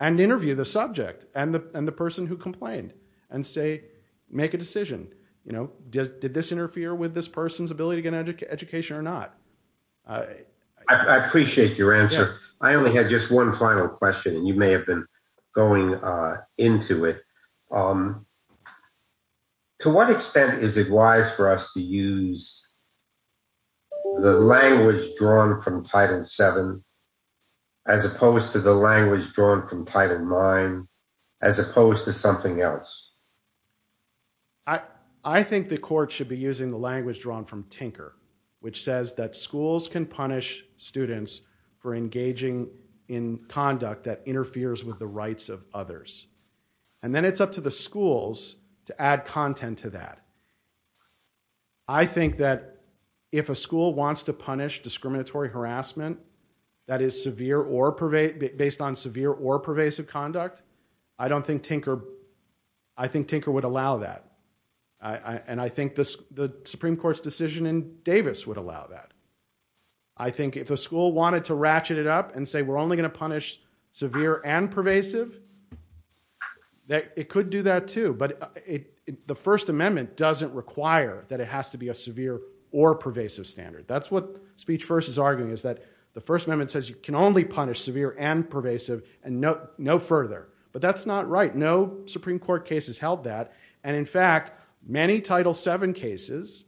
and interview the subject and the person who complained and say, make a decision. You know, did this interfere with this person's ability to get an education or not? I appreciate your answer. I only had just one final question and you may have been going into it. To what extent is it wise for us to use the language drawn from Title VII, as opposed to the language drawn from Title IX, as opposed to something else? I think the court should be using the language drawn from Tinker, which says that schools can punish students for engaging in conduct that interferes with the rights of others. And then it's up to the schools to add content to that. I think that if a school wants to punish discriminatory harassment that is severe or based on severe or pervasive conduct, I don't think Tinker, I think Tinker would allow that. And I think the Supreme Court's decision in Davis would allow that. I think if a school wanted to ratchet it up and say we're only going to punish severe and pervasive, it could do that too. But the First Amendment doesn't require that it has to be a severe or pervasive standard. That's what Speech First is arguing is that the First Amendment says you can only punish severe and pervasive and no further. But that's not right. No Supreme Court case has held that. And in fact, many Title VII cases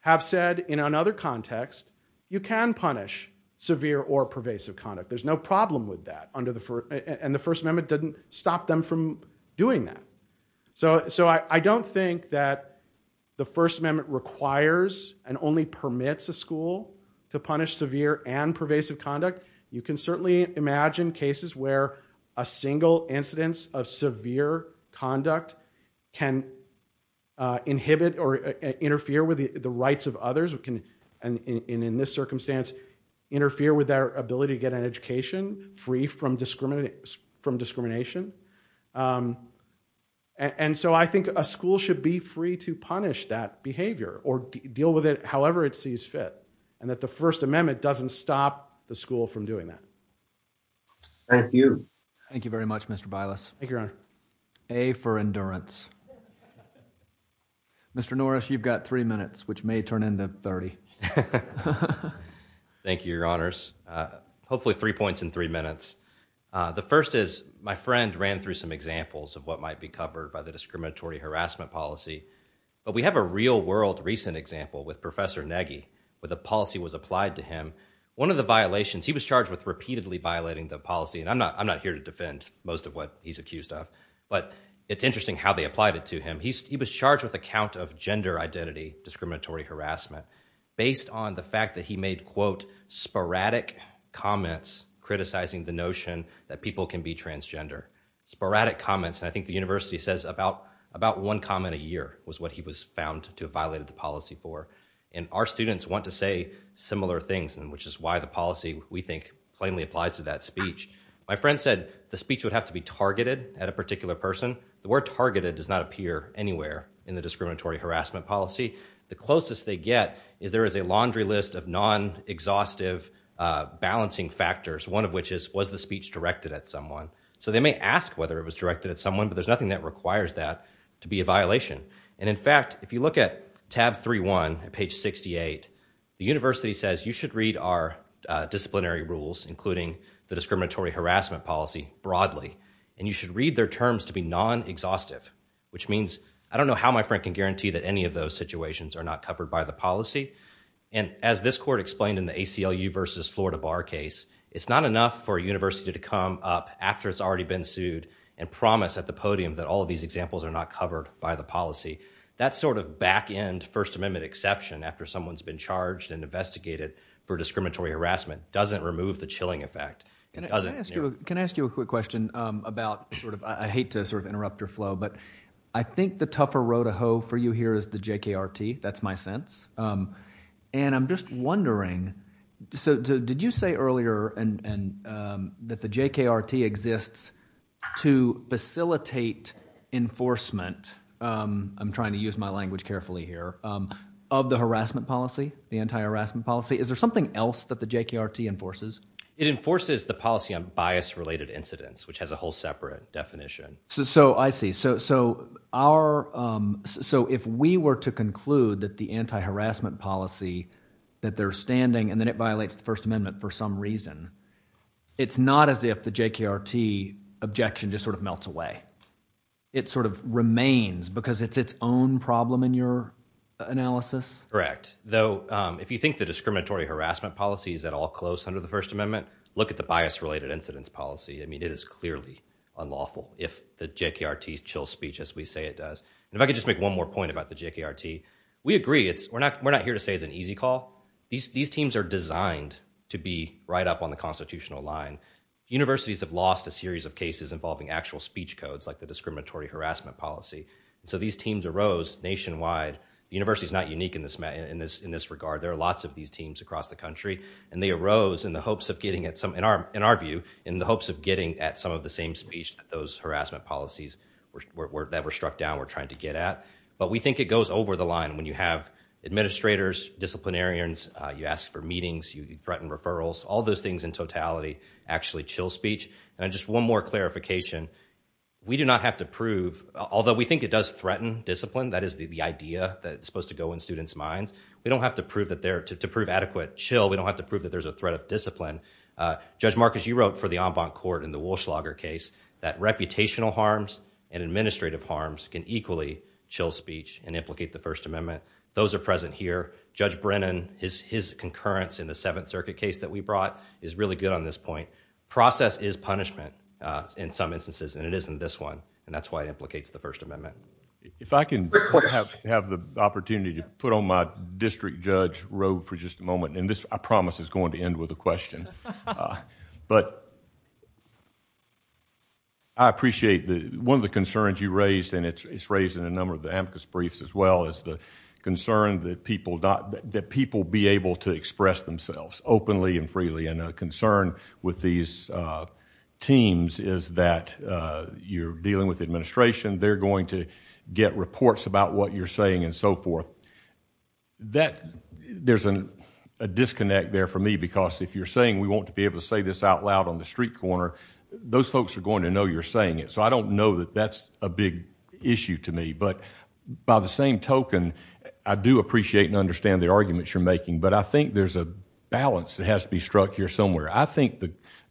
have said in another context, you can punish severe or pervasive conduct. There's no problem with that. And the First Amendment didn't stop them from doing that. So I don't think that the First Amendment requires and only permits a school to punish severe and pervasive conduct. You can certainly imagine cases where a single incidence of severe conduct can inhibit or interfere with the rights of others. It can, in this circumstance, interfere with their ability to get an education free from discrimination. And so I think a school should be free to punish that behavior or deal with it however it sees fit. And that the First Amendment doesn't stop the school from doing that. Thank you. Thank you very much, Mr. Bilas. Thank you, Your Honor. A for endurance. Mr. Norris, you've got three minutes, which may turn into 30. Thank you, Your Honors. Hopefully three points in three minutes. The first is my friend ran through some examples of what might be covered by the discriminatory harassment policy. But we have a real world recent example with Professor Nagy where the policy was applied to him. One of the violations, he was charged with repeatedly violating the policy. And I'm not here to defend most of what he's accused of. But it's interesting how they applied it to him. He was charged with a count of gender identity discriminatory harassment based on the fact that he made, quote, sporadic comments criticizing the notion that people can be transgender. Sporadic comments. And I think the university says about one comment a year was what he was found to have violated the policy for. And our students want to say similar things, which is why the policy, we think, plainly applies to that speech. My friend said the speech would have to be targeted at a particular person. The word targeted does not appear anywhere in the discriminatory harassment policy. The closest they get is there is a laundry list of non-exhaustive balancing factors, one of which is was the speech directed at someone. So they may ask whether it was directed at someone, but there's nothing that requires that to be a violation. And, in fact, if you look at tab 3-1 at page 68, the university says you should read our disciplinary rules, including the discriminatory harassment policy, broadly. And you should read their terms to be non-exhaustive, which means I don't know how my friend can guarantee that any of those situations are not covered by the policy. And as this court explained in the ACLU v. Florida Bar case, it's not enough for a university to come up after it's already been sued and promise at the podium that all of these examples are not covered by the policy. That sort of back-end First Amendment exception after someone's been charged and investigated for discriminatory harassment doesn't remove the chilling effect. Can I ask you a quick question about – I hate to interrupt your flow, but I think the tougher road to hoe for you here is the JKRT. That's my sense. And I'm just wondering – so did you say earlier that the JKRT exists to facilitate enforcement – I'm trying to use my language carefully here – of the harassment policy, the anti-harassment policy? Is there something else that the JKRT enforces? It enforces the policy on bias-related incidents, which has a whole separate definition. So I see. So if we were to conclude that the anti-harassment policy, that they're standing and then it violates the First Amendment for some reason, it's not as if the JKRT objection just sort of melts away. It sort of remains because it's its own problem in your analysis? Correct. Though if you think the discriminatory harassment policy is at all close under the First Amendment, look at the bias-related incidents policy. I mean it is clearly unlawful if the JKRT chills speech as we say it does. And if I could just make one more point about the JKRT. We agree. We're not here to say it's an easy call. These teams are designed to be right up on the constitutional line. Universities have lost a series of cases involving actual speech codes like the discriminatory harassment policy. So these teams arose nationwide. The university is not unique in this regard. There are lots of these teams across the country. And they arose in the hopes of getting at some, in our view, in the hopes of getting at some of the same speech that those harassment policies that were struck down were trying to get at. But we think it goes over the line when you have administrators, disciplinarians, you ask for meetings, you threaten referrals, all those things in totality actually chill speech. And just one more clarification. We do not have to prove, although we think it does threaten discipline, that is the idea that's supposed to go in students' minds. We don't have to prove that there, to prove adequate chill, we don't have to prove that there's a threat of discipline. Judge Marcus, you wrote for the en banc court in the Walschlager case that reputational harms and administrative harms can equally chill speech and implicate the First Amendment. Those are present here. Judge Brennan, his concurrence in the Seventh Circuit case that we brought is really good on this point. Process is punishment in some instances, and it isn't this one. And that's why it implicates the First Amendment. If I can have the opportunity to put on my district judge robe for just a moment. And this, I promise, is going to end with a question. But I appreciate one of the concerns you raised, and it's raised in a number of the amicus briefs as well, is the concern that people be able to express themselves openly and freely. And a concern with these teams is that you're dealing with administration. They're going to get reports about what you're saying and so forth. There's a disconnect there for me, because if you're saying we want to be able to say this out loud on the street corner, those folks are going to know you're saying it. So I don't know that that's a big issue to me. But by the same token, I do appreciate and understand the arguments you're making. But I think there's a balance that has to be struck here somewhere. I think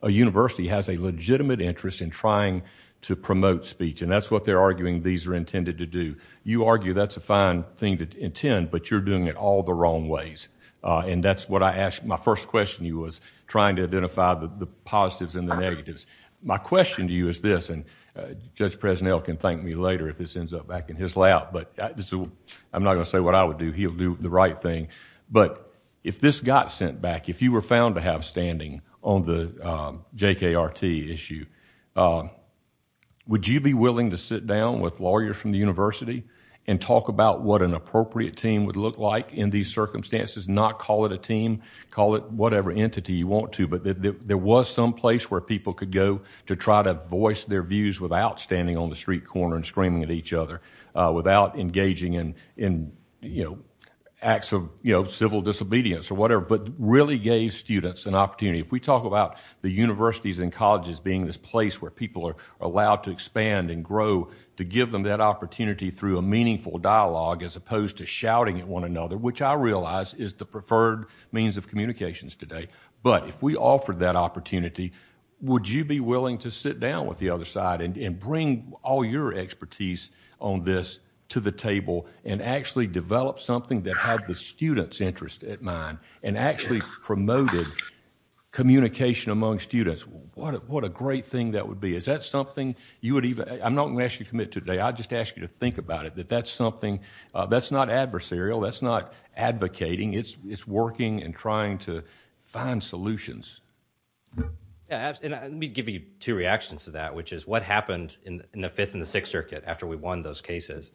a university has a legitimate interest in trying to promote speech. And that's what they're arguing these are intended to do. You argue that's a fine thing to intend, but you're doing it all the wrong ways. And that's what I asked. My first question to you was trying to identify the positives and the negatives. My question to you is this, and Judge Presnell can thank me later if this ends up back in his lap, but I'm not going to say what I would do. He'll do the right thing. But if this got sent back, if you were found to have standing on the JKRT issue, would you be willing to sit down with lawyers from the university and talk about what an appropriate team would look like in these circumstances, not call it a team, call it whatever entity you want to, but there was some place where people could go to try to voice their views without standing on the street corner and screaming at each other, without engaging in acts of civil disobedience or whatever, but really gave students an opportunity. If we talk about the universities and colleges being this place where people are allowed to expand and grow, to give them that opportunity through a meaningful dialogue as opposed to shouting at one another, which I realize is the preferred means of communications today. But if we offered that opportunity, would you be willing to sit down with the other side and bring all your expertise on this to the table and actually develop something that had the students' interest in mind and actually promoted communication among students? What a great thing that would be. Is that something you would even... I'm not going to ask you to commit today. I'll just ask you to think about it, that that's something... that's not adversarial, that's not advocating. It's working and trying to find solutions. Let me give you two reactions to that, which is what happened in the Fifth and the Sixth Circuit after we won those cases.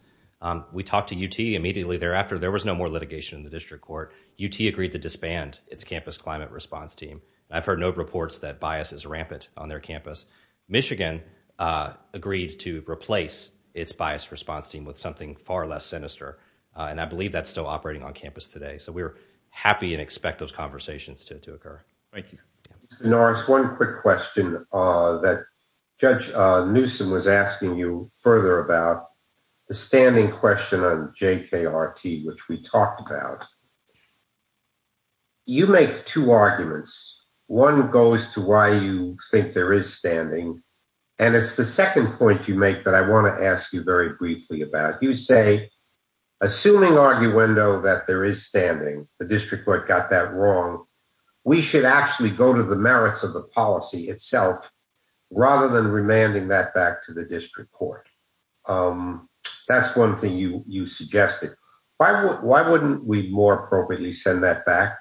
We talked to UT immediately thereafter. There was no more litigation in the district court. UT agreed to disband its campus climate response team. I've heard no reports that bias is rampant on their campus. Michigan agreed to replace its bias response team with something far less sinister, and I believe that's still operating on campus today. So we're happy and expect those conversations to occur. Thank you. Mr. Norris, one quick question that Judge Newsom was asking you further about the standing question on JKRT, which we talked about. You make two arguments. One goes to why you think there is standing, and it's the second point you make that I want to ask you very briefly about. You say, assuming arguendo that there is standing, the district court got that wrong, we should actually go to the merits of the policy itself rather than remanding that back to the district court. That's one thing you suggested. Why wouldn't we more appropriately send that back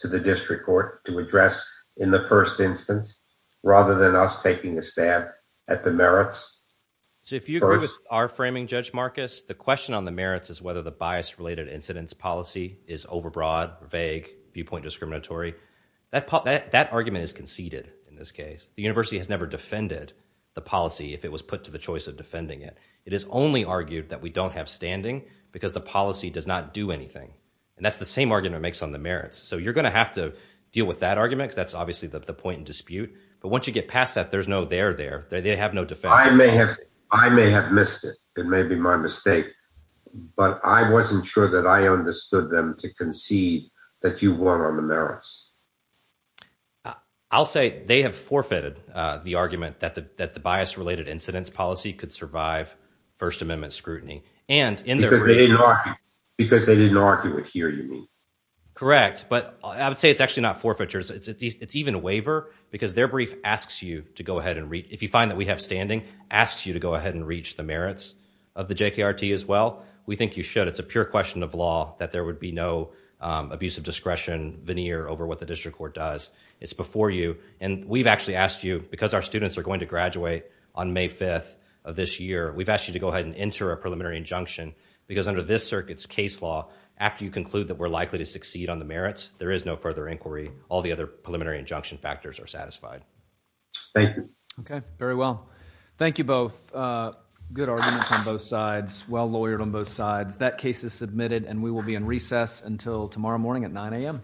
to the district court to address in the first instance rather than us taking a stab at the merits? So if you agree with our framing, Judge Marcus, the question on the merits is whether the bias-related incidents policy is overbroad, vague, viewpoint discriminatory. That argument is conceded in this case. The university has never defended the policy if it was put to the choice of defending it. It is only argued that we don't have standing because the policy does not do anything, and that's the same argument it makes on the merits. So you're going to have to deal with that argument because that's obviously the point in dispute. But once you get past that, there's no there there. They have no defense. I may have missed it. It may be my mistake. But I wasn't sure that I understood them to concede that you were on the merits. I'll say they have forfeited the argument that the bias-related incidents policy could survive First Amendment scrutiny. Because they didn't argue it here, you mean. Correct. But I would say it's actually not forfeitures. It's even a waiver because their brief asks you to go ahead and read. If you find that we have standing, asks you to go ahead and reach the merits of the JKRT as well, we think you should. It's a pure question of law that there would be no abusive discretion veneer over what the district court does. It's before you. And we've actually asked you, because our students are going to graduate on May 5th of this year, we've asked you to go ahead and enter a preliminary injunction because under this circuit's case law, after you conclude that we're likely to succeed on the merits, there is no further inquiry. All the other preliminary injunction factors are satisfied. Thank you. Okay. Very well. Thank you both. Good arguments on both sides. Well lawyered on both sides. That case is submitted, and we will be in recess until tomorrow morning at 9 a.m.